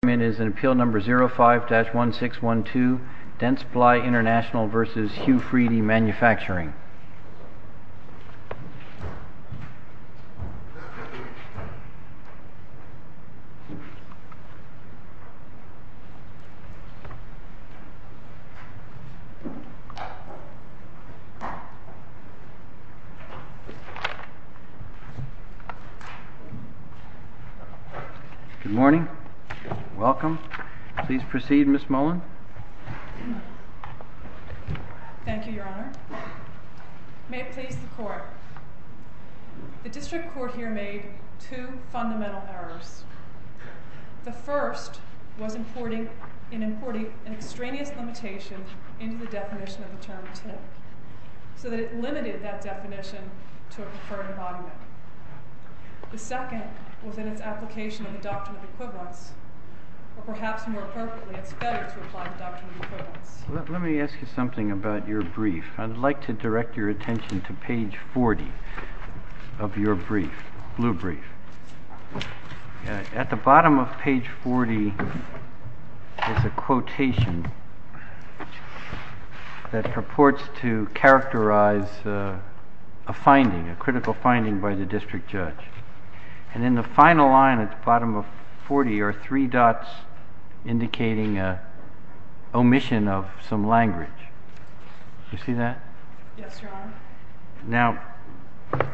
This is an appeal number 05-1612 Dentsply Intl v. HU-Friedy MFG Good morning. Welcome. Please proceed Ms. Mullin. Thank you, Your Honor. May it please the Court, the District Court has ruled in favor of the Court here made two fundamental errors. The first was in importing an extraneous limitation into the definition of the term TIP, so that it limited that definition to a preferred embodiment. The second was in its application of the Doctrine of Equivalence, or perhaps more perfectly, it's better to apply the Doctrine of Equivalence. Let me ask you something about your brief. I'd like to direct your attention to page 40 of your brief, blue brief. At the bottom of page 40 is a quotation that purports to characterize a finding, a critical finding by the District Judge. And in the final line at the bottom of 40 are three dots indicating an omission of some language. Do you see that? Yes, Your Honor. Now,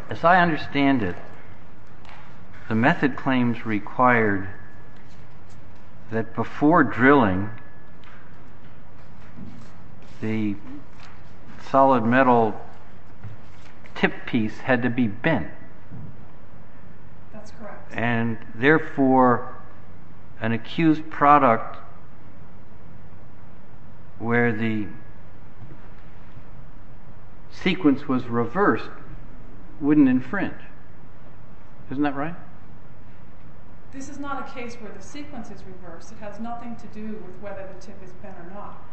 as I understand it, the method claims required that before drilling the solid metal TIP piece had to be bent. That's correct. If the sequence was reversed, it wouldn't infringe. Isn't that right? This is not a case where the sequence is reversed. It has nothing to do with whether the TIP is bent or not.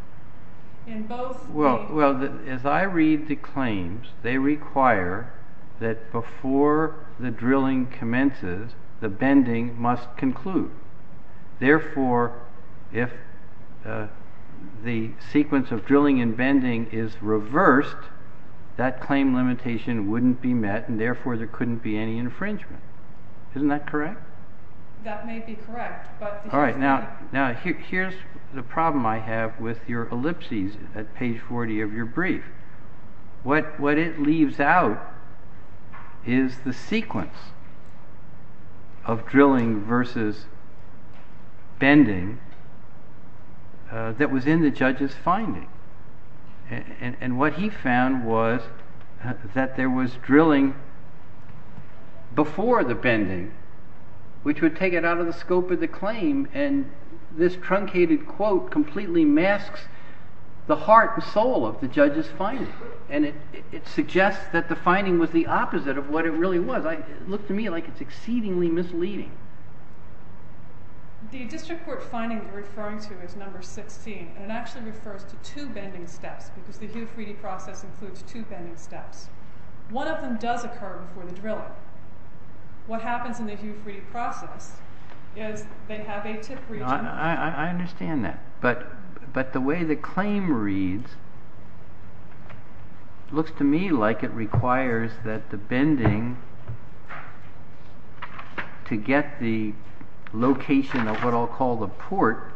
Well, as I read the claims, they require that before the drilling commences, the bending must conclude. Therefore, if the sequence of drilling and bending is reversed, the claim limitation wouldn't be met, and therefore there couldn't be any infringement. Isn't that correct? That may be correct, but the truth is not. Here's the problem I have with your ellipses at page 40 of your brief. What it leaves out is the sequence of drilling versus bending that was in the judge's finding. And what he found was that there was drilling before the bending, which would take it out of the scope of the claim, and this truncated quote completely masks the heart and soul of the judge's finding. And it suggests that the finding was the opposite of what it really was. It looked to me like it's exceedingly misleading. The district court finding you're referring to is number 16, and it actually refers to two bending steps, because the Hugh Freedie process includes two bending steps. One of them does occur before the drilling. What happens in the Hugh Freedie process is they have a tip region. I understand that, but the way the claim reads looks to me like it requires that the bending to get the location of what I'll call the port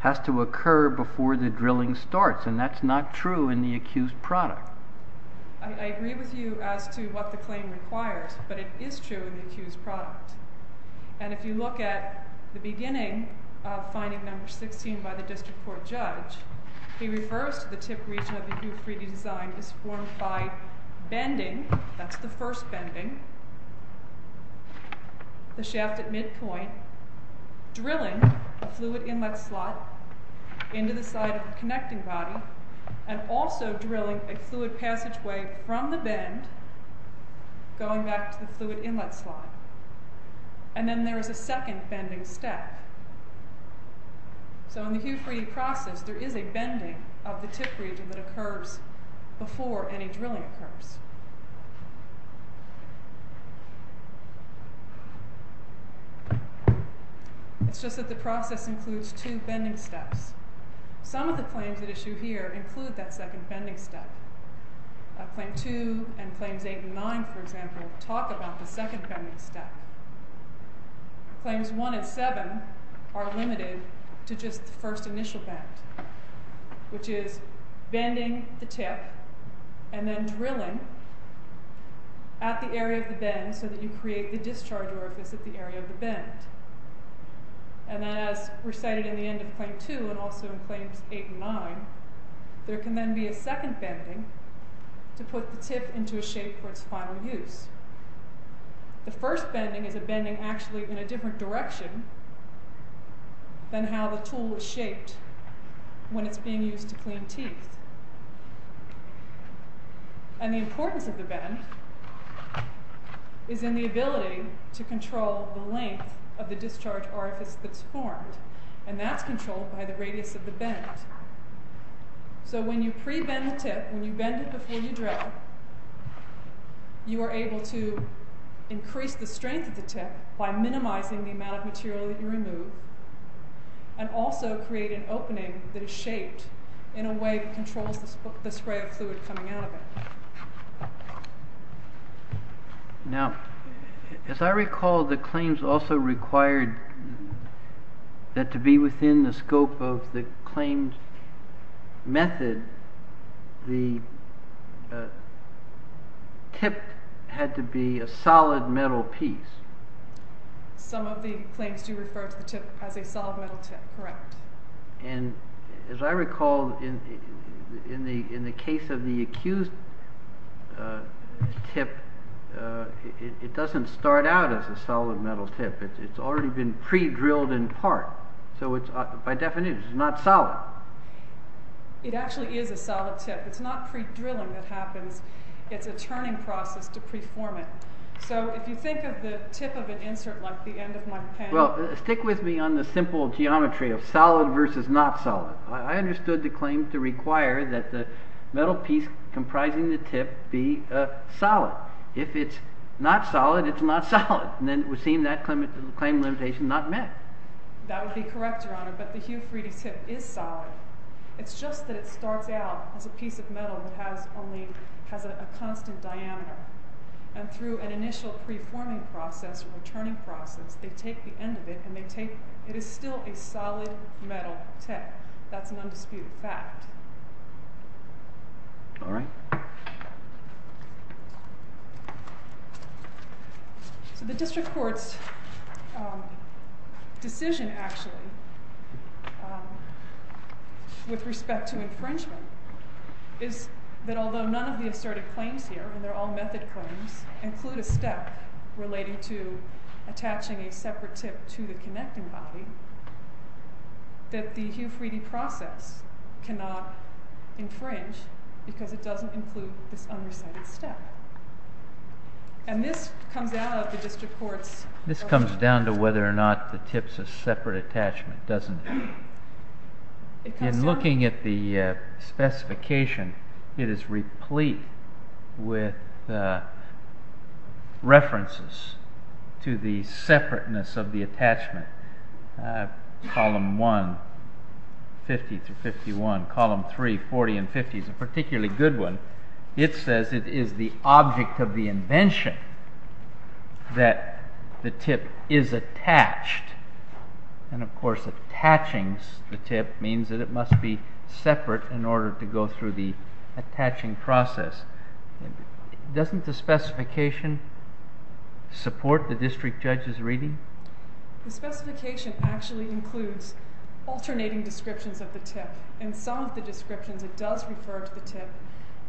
has to occur before the drilling starts, and that's not true in the accused product. I agree with you as to what the claim requires, but it is true in the accused product. And if you look at the beginning of finding number 16 by the district court judge, he refers to the tip region of the Hugh Freedie design as formed by bending, that's the first bending, the shaft at midpoint, drilling a fluid inlet slot into the side of the connecting body, and also drilling a fluid passageway from the bend going back to the fluid inlet slot. And then there is a second bending step. So in the Hugh Freedie process, there is a bending of the tip region that occurs before any drilling occurs. It's just that the process includes two bending steps. Some of the claims that issue here include that second bending step. Claim 2 and Claims 8 and 9, for example, talk about the second bending step. Claims 1 and 7 are limited to just the first initial bend, which is bending the tip and then drilling at the area of the bend so that you create the discharge orifice at the area of the bend. And then as recited in the end of Claim 2 and also in Claims 8 and 9, there can then be a second bending to put the tip into a shape for its final use. The first bending is a bending actually in a different direction than how the tool is shaped when it's being used to clean teeth. And the importance of the bend is in the ability to control the length of the discharge orifice that's formed, and that's controlled by the radius of the bend. So when you pre-bend the tip, when you bend it before you drill, you are able to increase the strength of the tip by minimizing the amount of material that you remove and also create an opening that is shaped in a way that controls the spray of fluid coming out of it. Now, as I recall, the claims also required that to be within the scope of the claims method, the tip had to be a solid metal piece. Some of the claims do refer to the tip as a solid metal tip, correct. And as I recall, in the case of the accused tip, it doesn't start out as a solid metal tip. It's already been pre-drilled in part. So by definition, it's not solid. It actually is a solid tip. It's not pre-drilling that happens. It's a turning process to pre-form it. So if you think of the tip of an insert like the end of my pen... Stick with me on the simple geometry of solid versus not solid. I understood the claim to require that the metal piece comprising the tip be solid. If it's not solid, it's not a claim limitation not met. That would be correct, Your Honor, but the Hugh Freedy tip is solid. It's just that it starts out as a piece of metal that has a constant diameter. And through an initial pre-forming process or returning process, they take the end of it and they take... It is still a solid metal tip. That's an undisputed fact. All right. So the district court's decision, actually, with respect to infringement is that although none of the assertive claims here, and they're all method claims, include a step relating to attaching a separate tip to the connecting body, that the Hugh Freedy process cannot infringe because it doesn't include this undecided step. And this comes out of the district court's... This comes down to whether or not the tip's a separate attachment, doesn't it? It comes down... In looking at the specification, it is replete with references to the separateness of the 50s, a particularly good one. It says it is the object of the invention that the tip is attached. And, of course, attaching the tip means that it must be separate in order to go through the attaching process. Doesn't the specification support the district judge's reading? The specification actually includes alternating descriptions of the tip. And some of the alternating descriptions, it does refer to the tip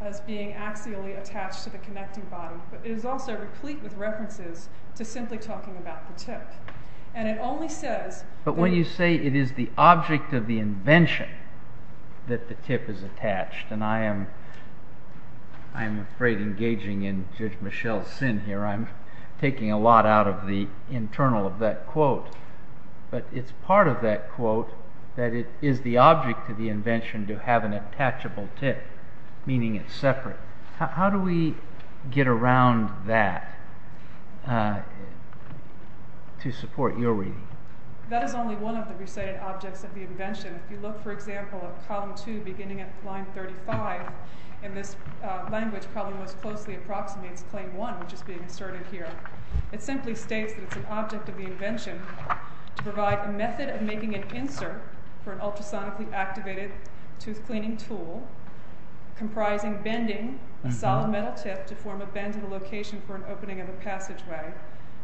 as being axially attached to the connecting body. But it is also replete with references to simply talking about the tip. And it only says... But when you say it is the object of the invention that the tip is attached, and I am afraid engaging in Judge Michelle's sin here. I'm taking a lot out of the internal of that quote. But it's part of that quote that it is the object of the invention to have an attachable tip, meaning it's separate. How do we get around that to support your reading? That is only one of the recited objects of the invention. If you look, for example, at column 2 beginning at line 35, in this language probably most closely approximates claim 1, which is being asserted here. It simply states that it's an object of the invention to provide a method of making an insert for an ultrasonically activated tooth cleaning tool comprising bending a solid metal tip to form a bend in the location for an opening of a passageway,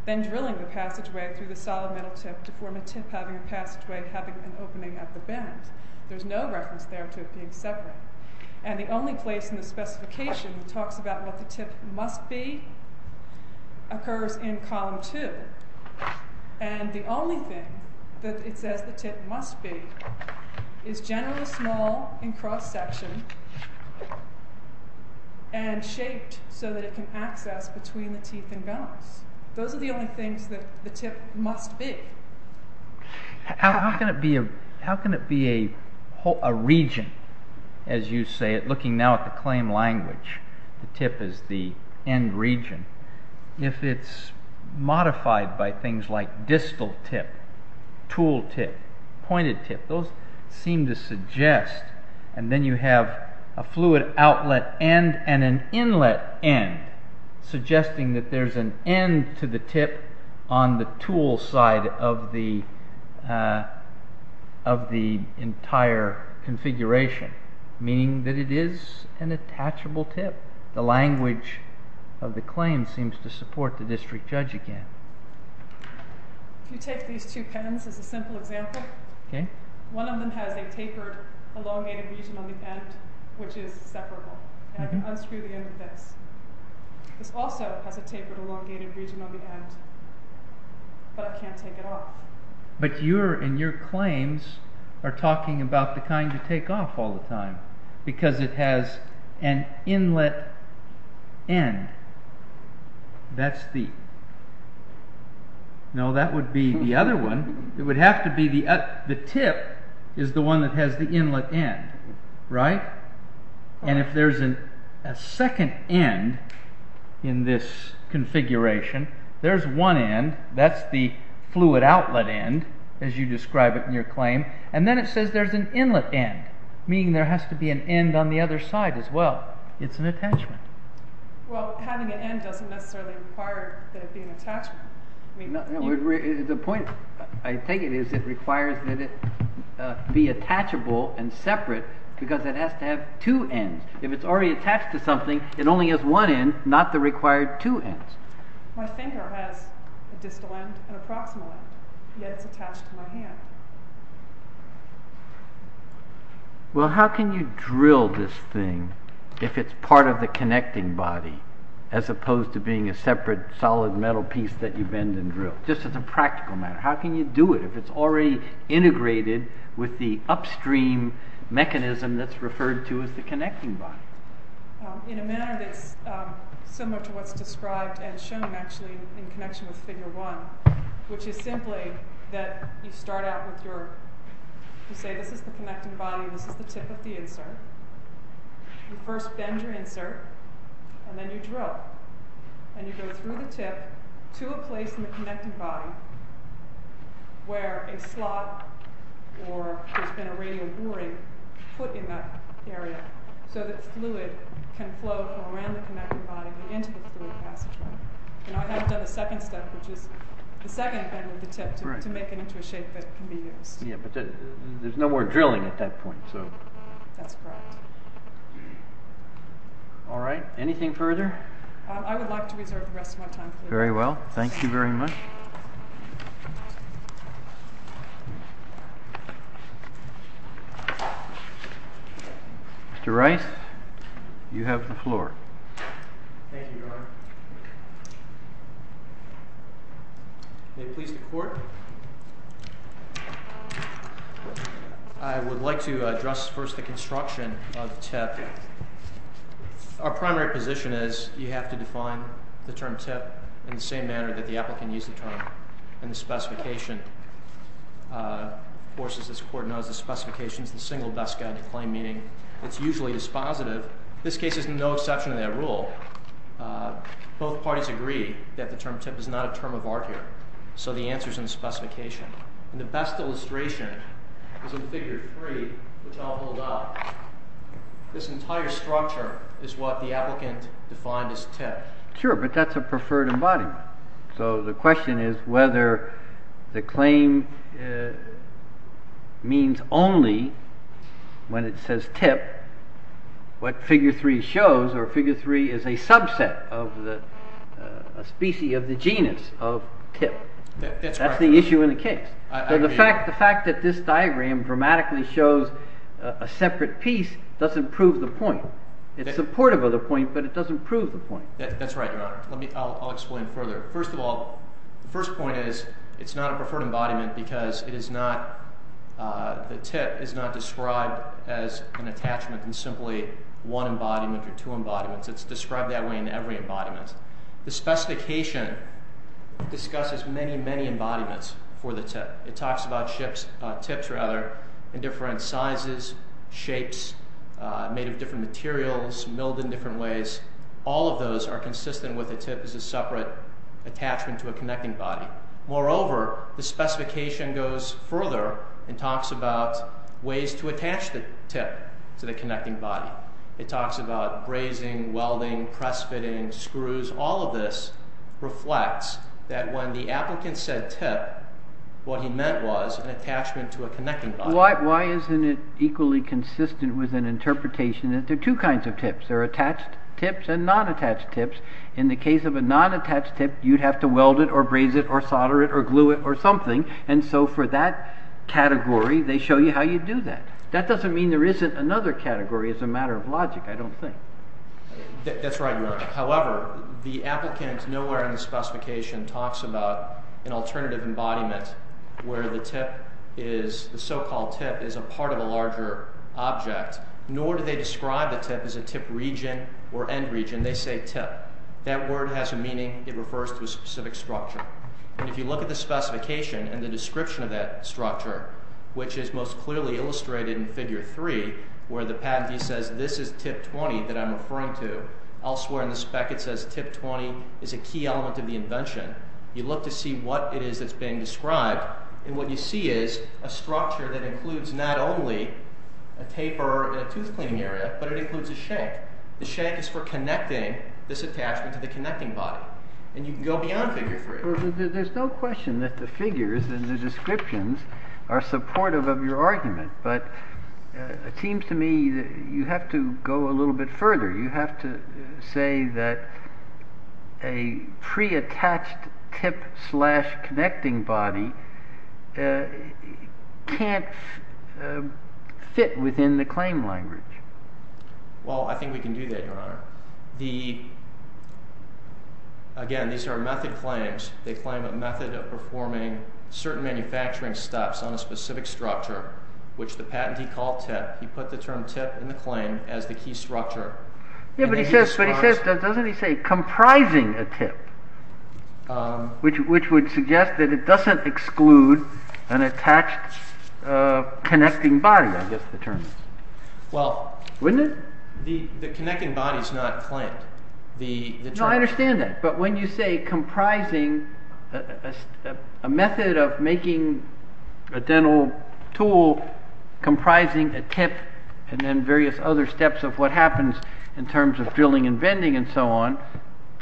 then drilling the passageway through the solid metal tip to form a tip having a passageway having an opening at the bend. There is no reference there to it being separate. And the only place in the specification that talks about what the tip must be occurs in column 2. And the only thing that it says the tip must be is generally small and cross-sectioned and shaped so that it can access between the teeth and gums. Those are the only things that the tip must be. How can it be a region, as you say, looking now at the claim language, the tip is the end region, if it's modified by things like distal tip, tool tip, pointed tip, those seem to suggest, and then you have a fluid outlet end and an inlet end suggesting that there's an end to the tip on the tool side of the entire configuration, meaning that it is an attachable tip. The language of the claim seems to support the district judge again. If you take these two pens as a simple example, one of them has a tapered elongated region on the end, which is separable, and unscrew the end of this. This also has a tapered elongated region on the end, but I can't take it off. But you and your claims are talking about the kind you take off all the time, because it has an inlet end, that's the, no, that would be the other one, it would have to be the tip is the one that has the inlet end, right? And if there's a second end in this configuration, there's one end, that's the fluid outlet end, as you describe it in your claim, and then it says there's an inlet end, meaning there has to be an end on the other side as well, it's an attachment. Well, having an end doesn't necessarily require that it be an attachment. The point I take it is it requires that it be attachable and separate, because it has to have two ends. If it's already attached to something, it only has one end, not the required two ends. My finger has a distal end and a proximal end, yet it's attached to my hand. Well, how can you drill this thing if it's part of the connecting body, as opposed to it being a separate solid metal piece that you bend and drill? Just as a practical matter, how can you do it if it's already integrated with the upstream mechanism that's referred to as the connecting body? In a manner that's similar to what's described and shown actually in connection with figure one, which is simply that you start out with your, you say this is the connecting body, this is the tip of the insert. You first bend your insert, and then you drill. And you go through the tip to a place in the connecting body where a slot or there's been a radial boring put in that area so that fluid can flow from around the connecting body and into the fluid passageway. And I haven't done the second step, which is the second bend of the tip to make it into a shape that can be used. Yeah, but there's no more drilling at that point, so. That's correct. All right, anything further? I would like to reserve the rest of my time. Very well, thank you very much. Mr. Rice, you have the floor. Thank you, Your Honor. May it please the Court. I would like to address first the construction of the tip. Our primary position is you have to define the term tip in the same manner that the applicant used the term in the specification. Of course, as this Court knows, the specification is the single best guide to claim meaning. It's usually dispositive. This case is no exception to that rule. Both parties agree that the term tip is not a term of art here, so the answer is in the figure 3, which I'll hold up. This entire structure is what the applicant defined as tip. Sure, but that's a preferred embodiment. So the question is whether the claim means only when it says tip what figure 3 shows, or figure 3 is a subset of the species of the genus of tip. That's the issue in the case. The fact that this diagram dramatically shows a separate piece doesn't prove the point. It's supportive of the point, but it doesn't prove the point. That's right, Your Honor. I'll explain further. First of all, the first point is it's not a preferred embodiment because the tip is not described as an attachment in simply one embodiment or two embodiments. It's described that way in every embodiment. The specification discusses many, many embodiments for the tip. It talks about tips in different sizes, shapes, made of different materials, milled in different ways. All of those are consistent with the tip as a separate attachment to a connecting body. Moreover, the specification goes further and talks about ways to attach the tip to the connecting body. It talks about brazing, welding, press fitting, screws. All of this reflects that when the applicant said tip, what he meant was an attachment to a connecting body. Why isn't it equally consistent with an interpretation that there are two kinds of tips? There are attached tips and non-attached tips. In the case of a non-attached tip, you'd have to weld it or braze it or solder it or glue it or something. For that category, they show you how you do that. That doesn't mean there isn't another category as a matter of logic, I don't think. That's right, Warren. However, the applicant nowhere in the specification talks about an alternative embodiment where the so-called tip is a part of a larger object, nor do they describe the tip as a tip region or end region. They say tip. That word has a meaning. It refers to a specific structure. If you look at the specification and the description of that structure, which is most clearly illustrated in Figure 3 where the patentee says this is tip 20 that I'm referring to. Elsewhere in the spec it says tip 20 is a key element of the invention. You look to see what it is that's being described. What you see is a structure that includes not only a taper and a tooth cleaning area, but it includes a shank. The shank is for connecting this attachment to the connecting body. And you can go beyond Figure 3. There's no question that the figures and the descriptions are supportive of your argument, but it seems to me that you have to go a little bit further. You have to say that a preattached tip slash connecting body can't fit within the claim language. Well, I think we can do that, Your Honor. Again, these are method claims. They claim a method of performing certain manufacturing steps on a specific structure, which the patentee called tip. He put the term tip in the claim as the key structure. Yeah, but he says, doesn't he say comprising a tip, which would suggest that it doesn't exclude an attached connecting body, I guess the term is. Wouldn't it? The connecting body is not claimed. No, I understand that. But when you say comprising a method of making a dental tool comprising a tip and then various other steps of what happens in terms of drilling and bending and so on,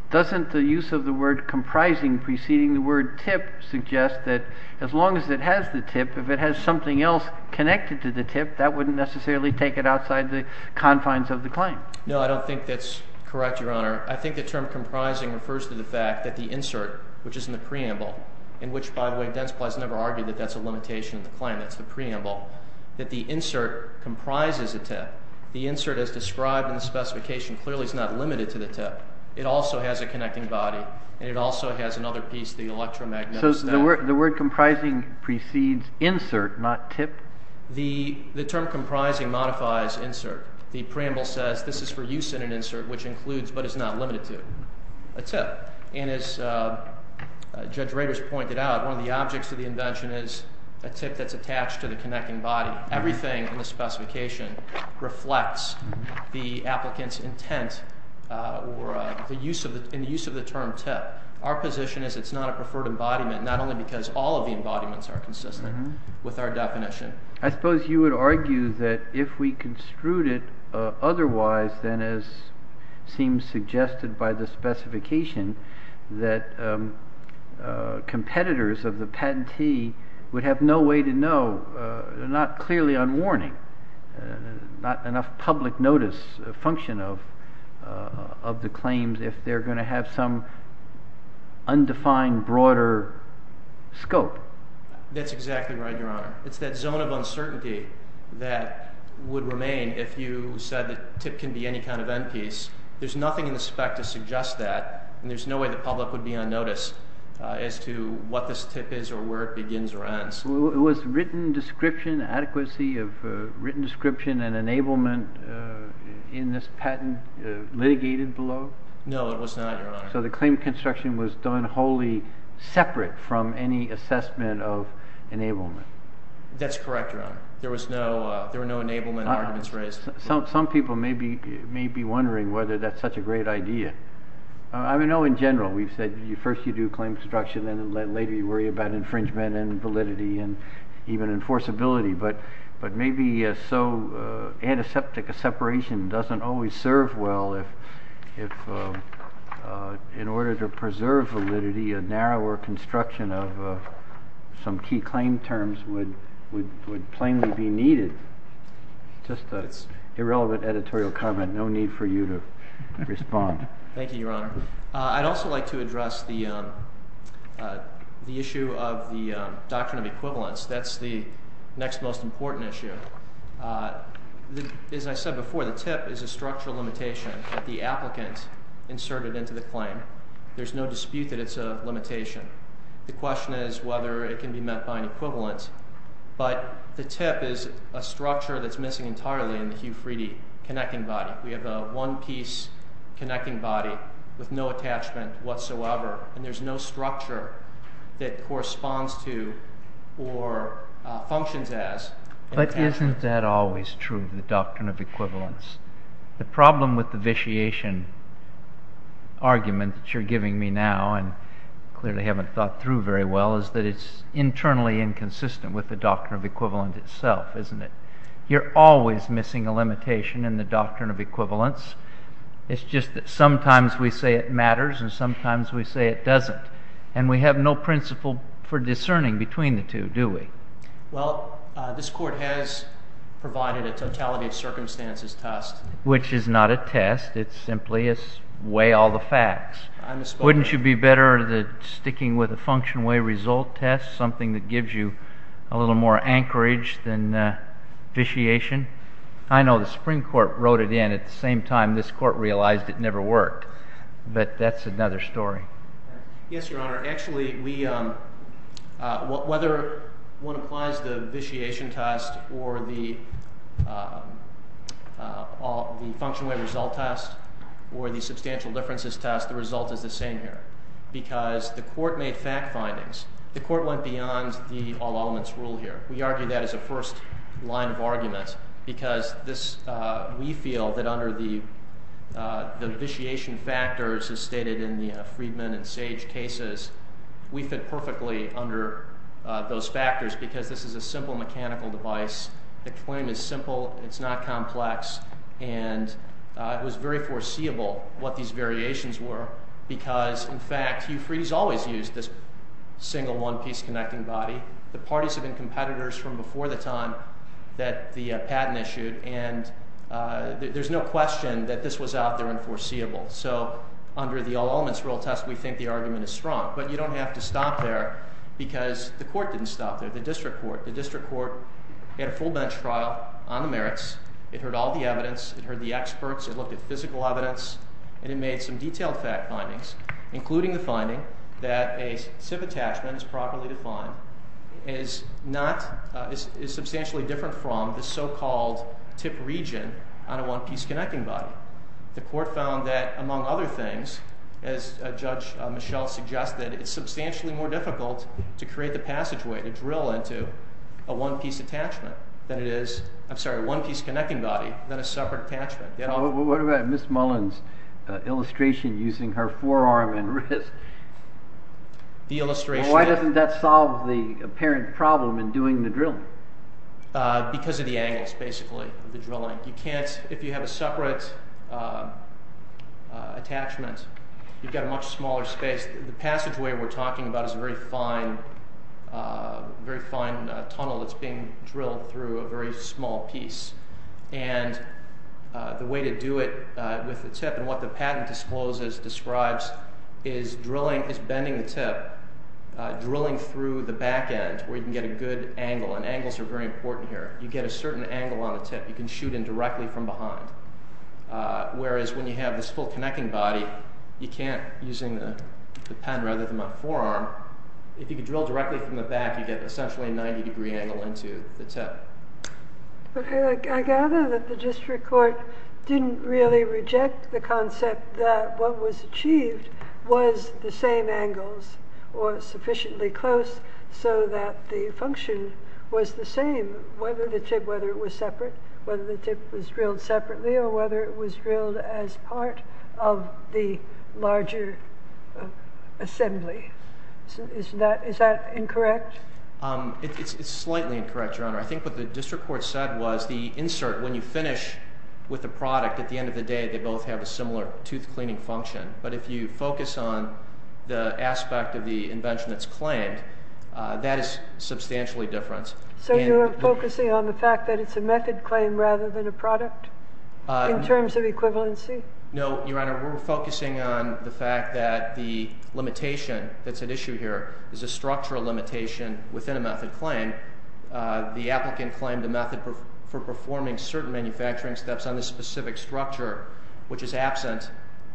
doesn't the use of the word comprising preceding the word tip suggest that as long as it has the tip, if it has something else connected to the tip, that wouldn't necessarily take it outside the confines of the claim? No, I don't think that's correct, Your Honor. I think the term comprising refers to the fact that the insert, which is in the preamble, in which, by the way, Densply has never argued that that's a limitation of the claim, that's the preamble, that the insert comprises a tip. The insert as described in the specification clearly is not limited to the tip. It also has a connecting body, and it also has another piece, the electromagnetic step. So the word comprising precedes insert, not tip? The term comprising modifies insert. The preamble says this is for use in an insert, which includes but is not limited to a tip. And as Judge Rader has pointed out, one of the objects of the invention is a tip that's attached to the connecting body. Everything in the specification reflects the applicant's intent or the use of the term tip. Our position is it's not a preferred embodiment, not only because all of the embodiments are consistent with our definition. I suppose you would argue that if we construed it otherwise than as seems suggested by the specification, that competitors of the patentee would have no way to know, not clearly on warning, not enough public notice function of the claims if they're going to have some undefined broader scope. That's exactly right, Your Honor. It's that zone of uncertainty that would remain if you said that tip can be any kind of end piece. There's nothing in the spec to suggest that, and there's no way the public would be on notice as to what this tip is or where it begins or ends. Was written description, adequacy of written description and enablement in this patent litigated below? No, it was not, Your Honor. So the claim construction was done wholly separate from any assessment of enablement. That's correct, Your Honor. There were no enablement arguments raised. Some people may be wondering whether that's such a great idea. I mean, no, in general. We've said first you do claim construction and then later you worry about infringement and validity and even enforceability. But maybe so antiseptic a separation doesn't always serve well if in order to preserve validity, a narrower construction of some key claim terms would plainly be needed. Just an irrelevant editorial comment. No need for you to respond. Thank you, Your Honor. I'd also like to address the issue of the doctrine of equivalence. That's the next most important issue. As I said before, the tip is a structural limitation that the applicant inserted into the claim. There's no dispute that it's a limitation. The question is whether it can be met by an equivalent. But the tip is a structure that's missing entirely in the Hugh Friede connecting body. We have a one-piece connecting body with no attachment whatsoever. And there's no structure that corresponds to or functions as an attachment. But isn't that always true, the doctrine of equivalence? The problem with the vitiation argument that you're giving me now, and clearly haven't thought through very well, is that it's internally inconsistent with the doctrine of equivalent itself, isn't it? You're always missing a limitation in the doctrine of equivalence. It's just that sometimes we say it matters and sometimes we say it doesn't. And we have no principle for discerning between the two, do we? Well, this Court has provided a totality of circumstances test. Which is not a test. It's simply a weigh all the facts. Wouldn't you be better sticking with a function way result test, something that gives you a little more anchorage than vitiation? I know the Supreme Court wrote it in at the same time this Court realized it never worked. But that's another story. Yes, Your Honor. Actually, whether one applies the vitiation test or the function way result test or the substantial differences test, the result is the same here. Because the Court made fact findings. The Court went beyond the all elements rule here. We argue that as a first line of argument. Because we feel that under the vitiation factors as stated in the Freedman and Sage cases, we fit perfectly under those factors because this is a simple mechanical device. The claim is simple. It's not complex. And it was very foreseeable what these variations were. Because, in fact, Hugh Freed has always used this single one piece connecting body. The parties have been competitors from before the time that the patent issued. And there's no question that this was out there unforeseeable. So under the all elements rule test, we think the argument is strong. But you don't have to stop there because the Court didn't stop there. The District Court. The District Court had a full bench trial on the merits. It heard all the evidence. It heard the experts. It looked at physical evidence. And it made some detailed fact findings, including the finding that a SIF attachment is properly defined, is substantially different from the so-called tip region on a one piece connecting body. The Court found that, among other things, as Judge Michel suggested, it's substantially more difficult to create the passageway to drill into a one piece attachment than it is, I'm sorry, a one piece connecting body than a separate attachment. What about Ms. Mullen's illustration using her forearm and wrist? The illustration. Why doesn't that solve the apparent problem in doing the drilling? Because of the angles, basically, of the drilling. You can't, if you have a separate attachment, you've got a much smaller space. The passageway we're talking about is a very fine tunnel that's being drilled through a very small piece. And the way to do it with the tip and what the patent discloses, describes, is drilling, is bending the tip, drilling through the back end where you can get a good angle. And angles are very important here. You get a certain angle on the tip. You can shoot in directly from behind. Whereas when you have this full connecting body, you can't using the pen rather than a forearm. If you can drill directly from the back, you get essentially a 90 degree angle into the tip. I gather that the District Court didn't really reject the concept that what was achieved was the same angles or sufficiently close so that the function was the same, whether the tip, whether it was separate, whether the tip was drilled separately or whether it was drilled as part of the larger assembly. Is that incorrect? It's slightly incorrect, Your Honor. I think what the District Court said was the insert, when you finish with the product, at the end of the day they both have a similar tooth cleaning function. But if you focus on the aspect of the invention that's claimed, that is substantially different. So you're focusing on the fact that it's a method claim rather than a product in terms of equivalency? No, Your Honor. We're focusing on the fact that the limitation that's at issue here is a structural limitation within a method claim. The applicant claimed a method for performing certain manufacturing steps on this specific structure, which is absent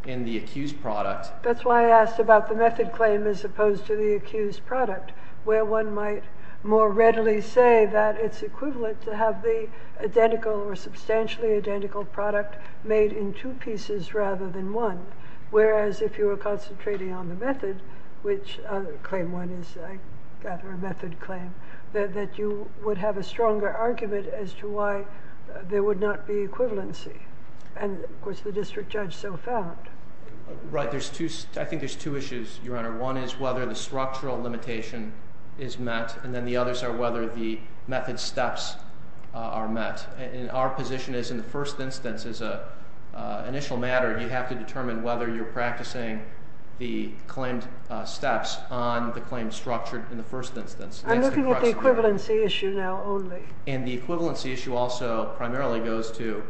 in the accused product. That's why I asked about the method claim as opposed to the accused product, where one might more readily say that it's equivalent to have the identical or substantially identical product made in two pieces rather than one. Whereas if you were concentrating on the method, which claim one is, I gather, a method claim, that you would have a stronger argument as to why there would not be equivalency. And, of course, the district judge so found. Right. I think there's two issues, Your Honor. One is whether the structural limitation is met. And then the others are whether the method steps are met. And our position is in the first instance, as an initial matter, you have to determine whether you're practicing the claimed steps on the claim structured in the first instance. I'm looking at the equivalency issue now only. And the equivalency issue also primarily goes to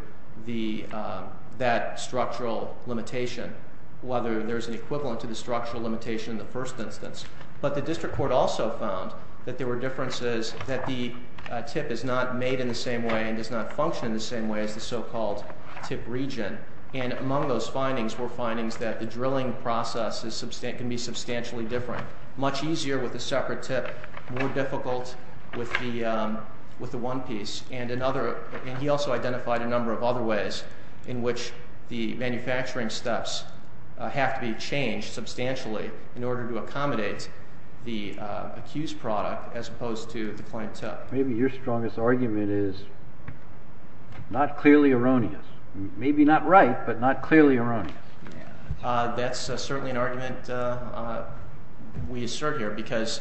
that structural limitation, whether there's an equivalent to the structural limitation in the first instance. But the district court also found that there were differences, that the tip is not made in the same way and does not function in the same way as the so-called tip region. And among those findings were findings that the drilling process can be substantially different, much easier with a separate tip, more difficult with the one piece. And he also identified a number of other ways in which the manufacturing steps have to be changed substantially in order to accommodate the accused product as opposed to the client tip. Maybe your strongest argument is not clearly erroneous. Maybe not right, but not clearly erroneous. That's certainly an argument we assert here, because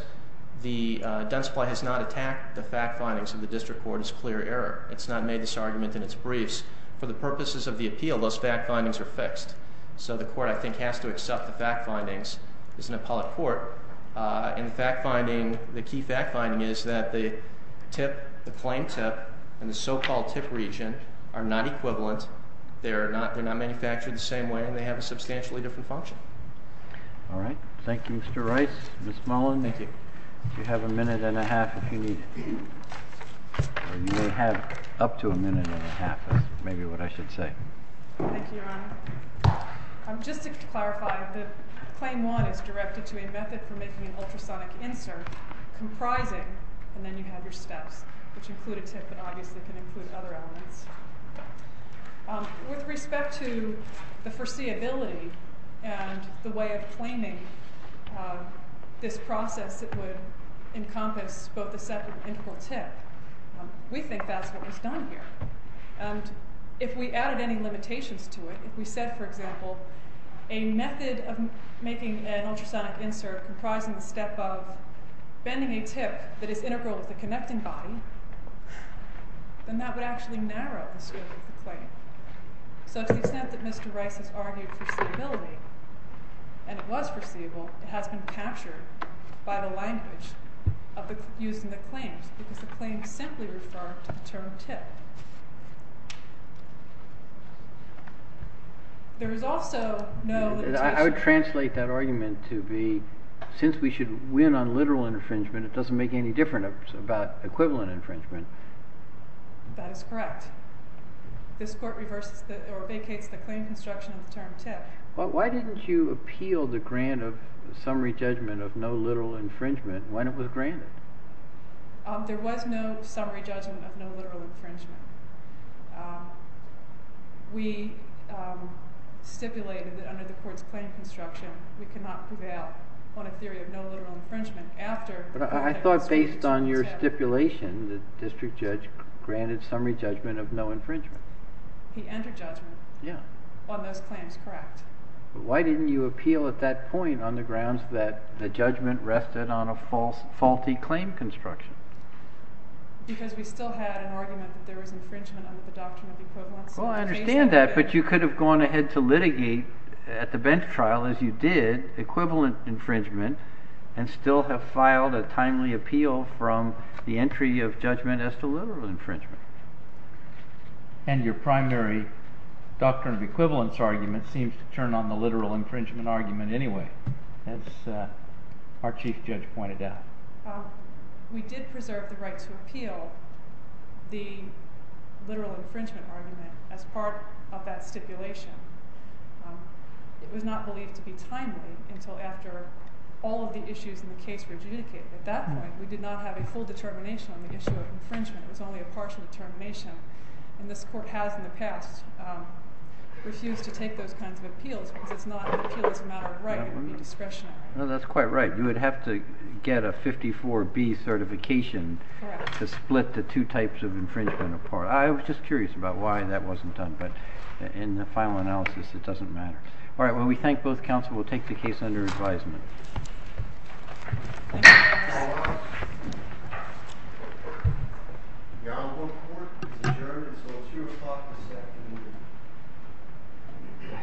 the Dunn Supply has not attacked the fact findings of the district court as clear error. It's not made this argument in its briefs. For the purposes of the appeal, those fact findings are fixed. So the court, I think, has to accept the fact findings as an appellate court. And the fact finding, the key fact finding is that the tip, the claimed tip, and the so-called tip region are not equivalent. They're not manufactured the same way, and they have a substantially different function. All right. Thank you, Mr. Rice. Ms. Mullen, you have a minute and a half if you need it. Or you may have up to a minute and a half, is maybe what I should say. Thank you, Your Honor. Just to clarify, the Claim 1 is directed to a method for making an ultrasonic insert comprising, and then you have your steps, which include a tip and obviously can include other elements. With respect to the foreseeability and the way of claiming this process that would encompass both the separate and integral tip, we think that's what was done here. And if we added any limitations to it, if we said, for example, a method of making an ultrasonic insert comprising the step of bending a tip that is integral to the connecting body, then that would actually narrow the scope of the claim. So to the extent that Mr. Rice has argued foreseeability, and it was foreseeable, it has been captured by the language used in the claims, because the claims simply refer to the term tip. There is also no limitation. I would translate that argument to be, since we should win on literal infringement, it doesn't make any difference about equivalent infringement. That is correct. This court vacates the claim construction of the term tip. Well, why didn't you appeal the grant of summary judgment of no literal infringement when it was granted? There was no summary judgment of no literal infringement. We stipulated that under the court's claim construction, we cannot prevail on a theory of no literal infringement after the court has granted summary judgment. But I thought based on your stipulation, the district judge granted summary judgment of no infringement. He entered judgment on those claims, correct. But why didn't you appeal at that point on the grounds that the judgment rested on a faulty claim construction? Because we still had an argument that there was infringement under the doctrine of equivalence. Well, I understand that. But you could have gone ahead to litigate at the bench trial, as you did, equivalent infringement, and still have filed a timely appeal from the entry of judgment as to literal infringement. And your primary doctrine of equivalence argument seems to turn on the literal infringement argument anyway, as our chief judge pointed out. We did preserve the right to appeal the literal infringement argument as part of that stipulation. It was not believed to be timely until after all of the issues in the case were adjudicated. At that point, we did not have a full determination on the issue of infringement. It was only a partial determination. And this court has in the past refused to take those kinds of appeals because it's not an appeal as a matter of right. It would be discretionary. No, that's quite right. You would have to get a 54B certification to split the two types of infringement apart. I was just curious about why that wasn't done. But in the final analysis, it doesn't matter. All right. Well, we thank both counsel. We'll take the case under advisement. The Honorable Court is adjourned until 2 o'clock this afternoon.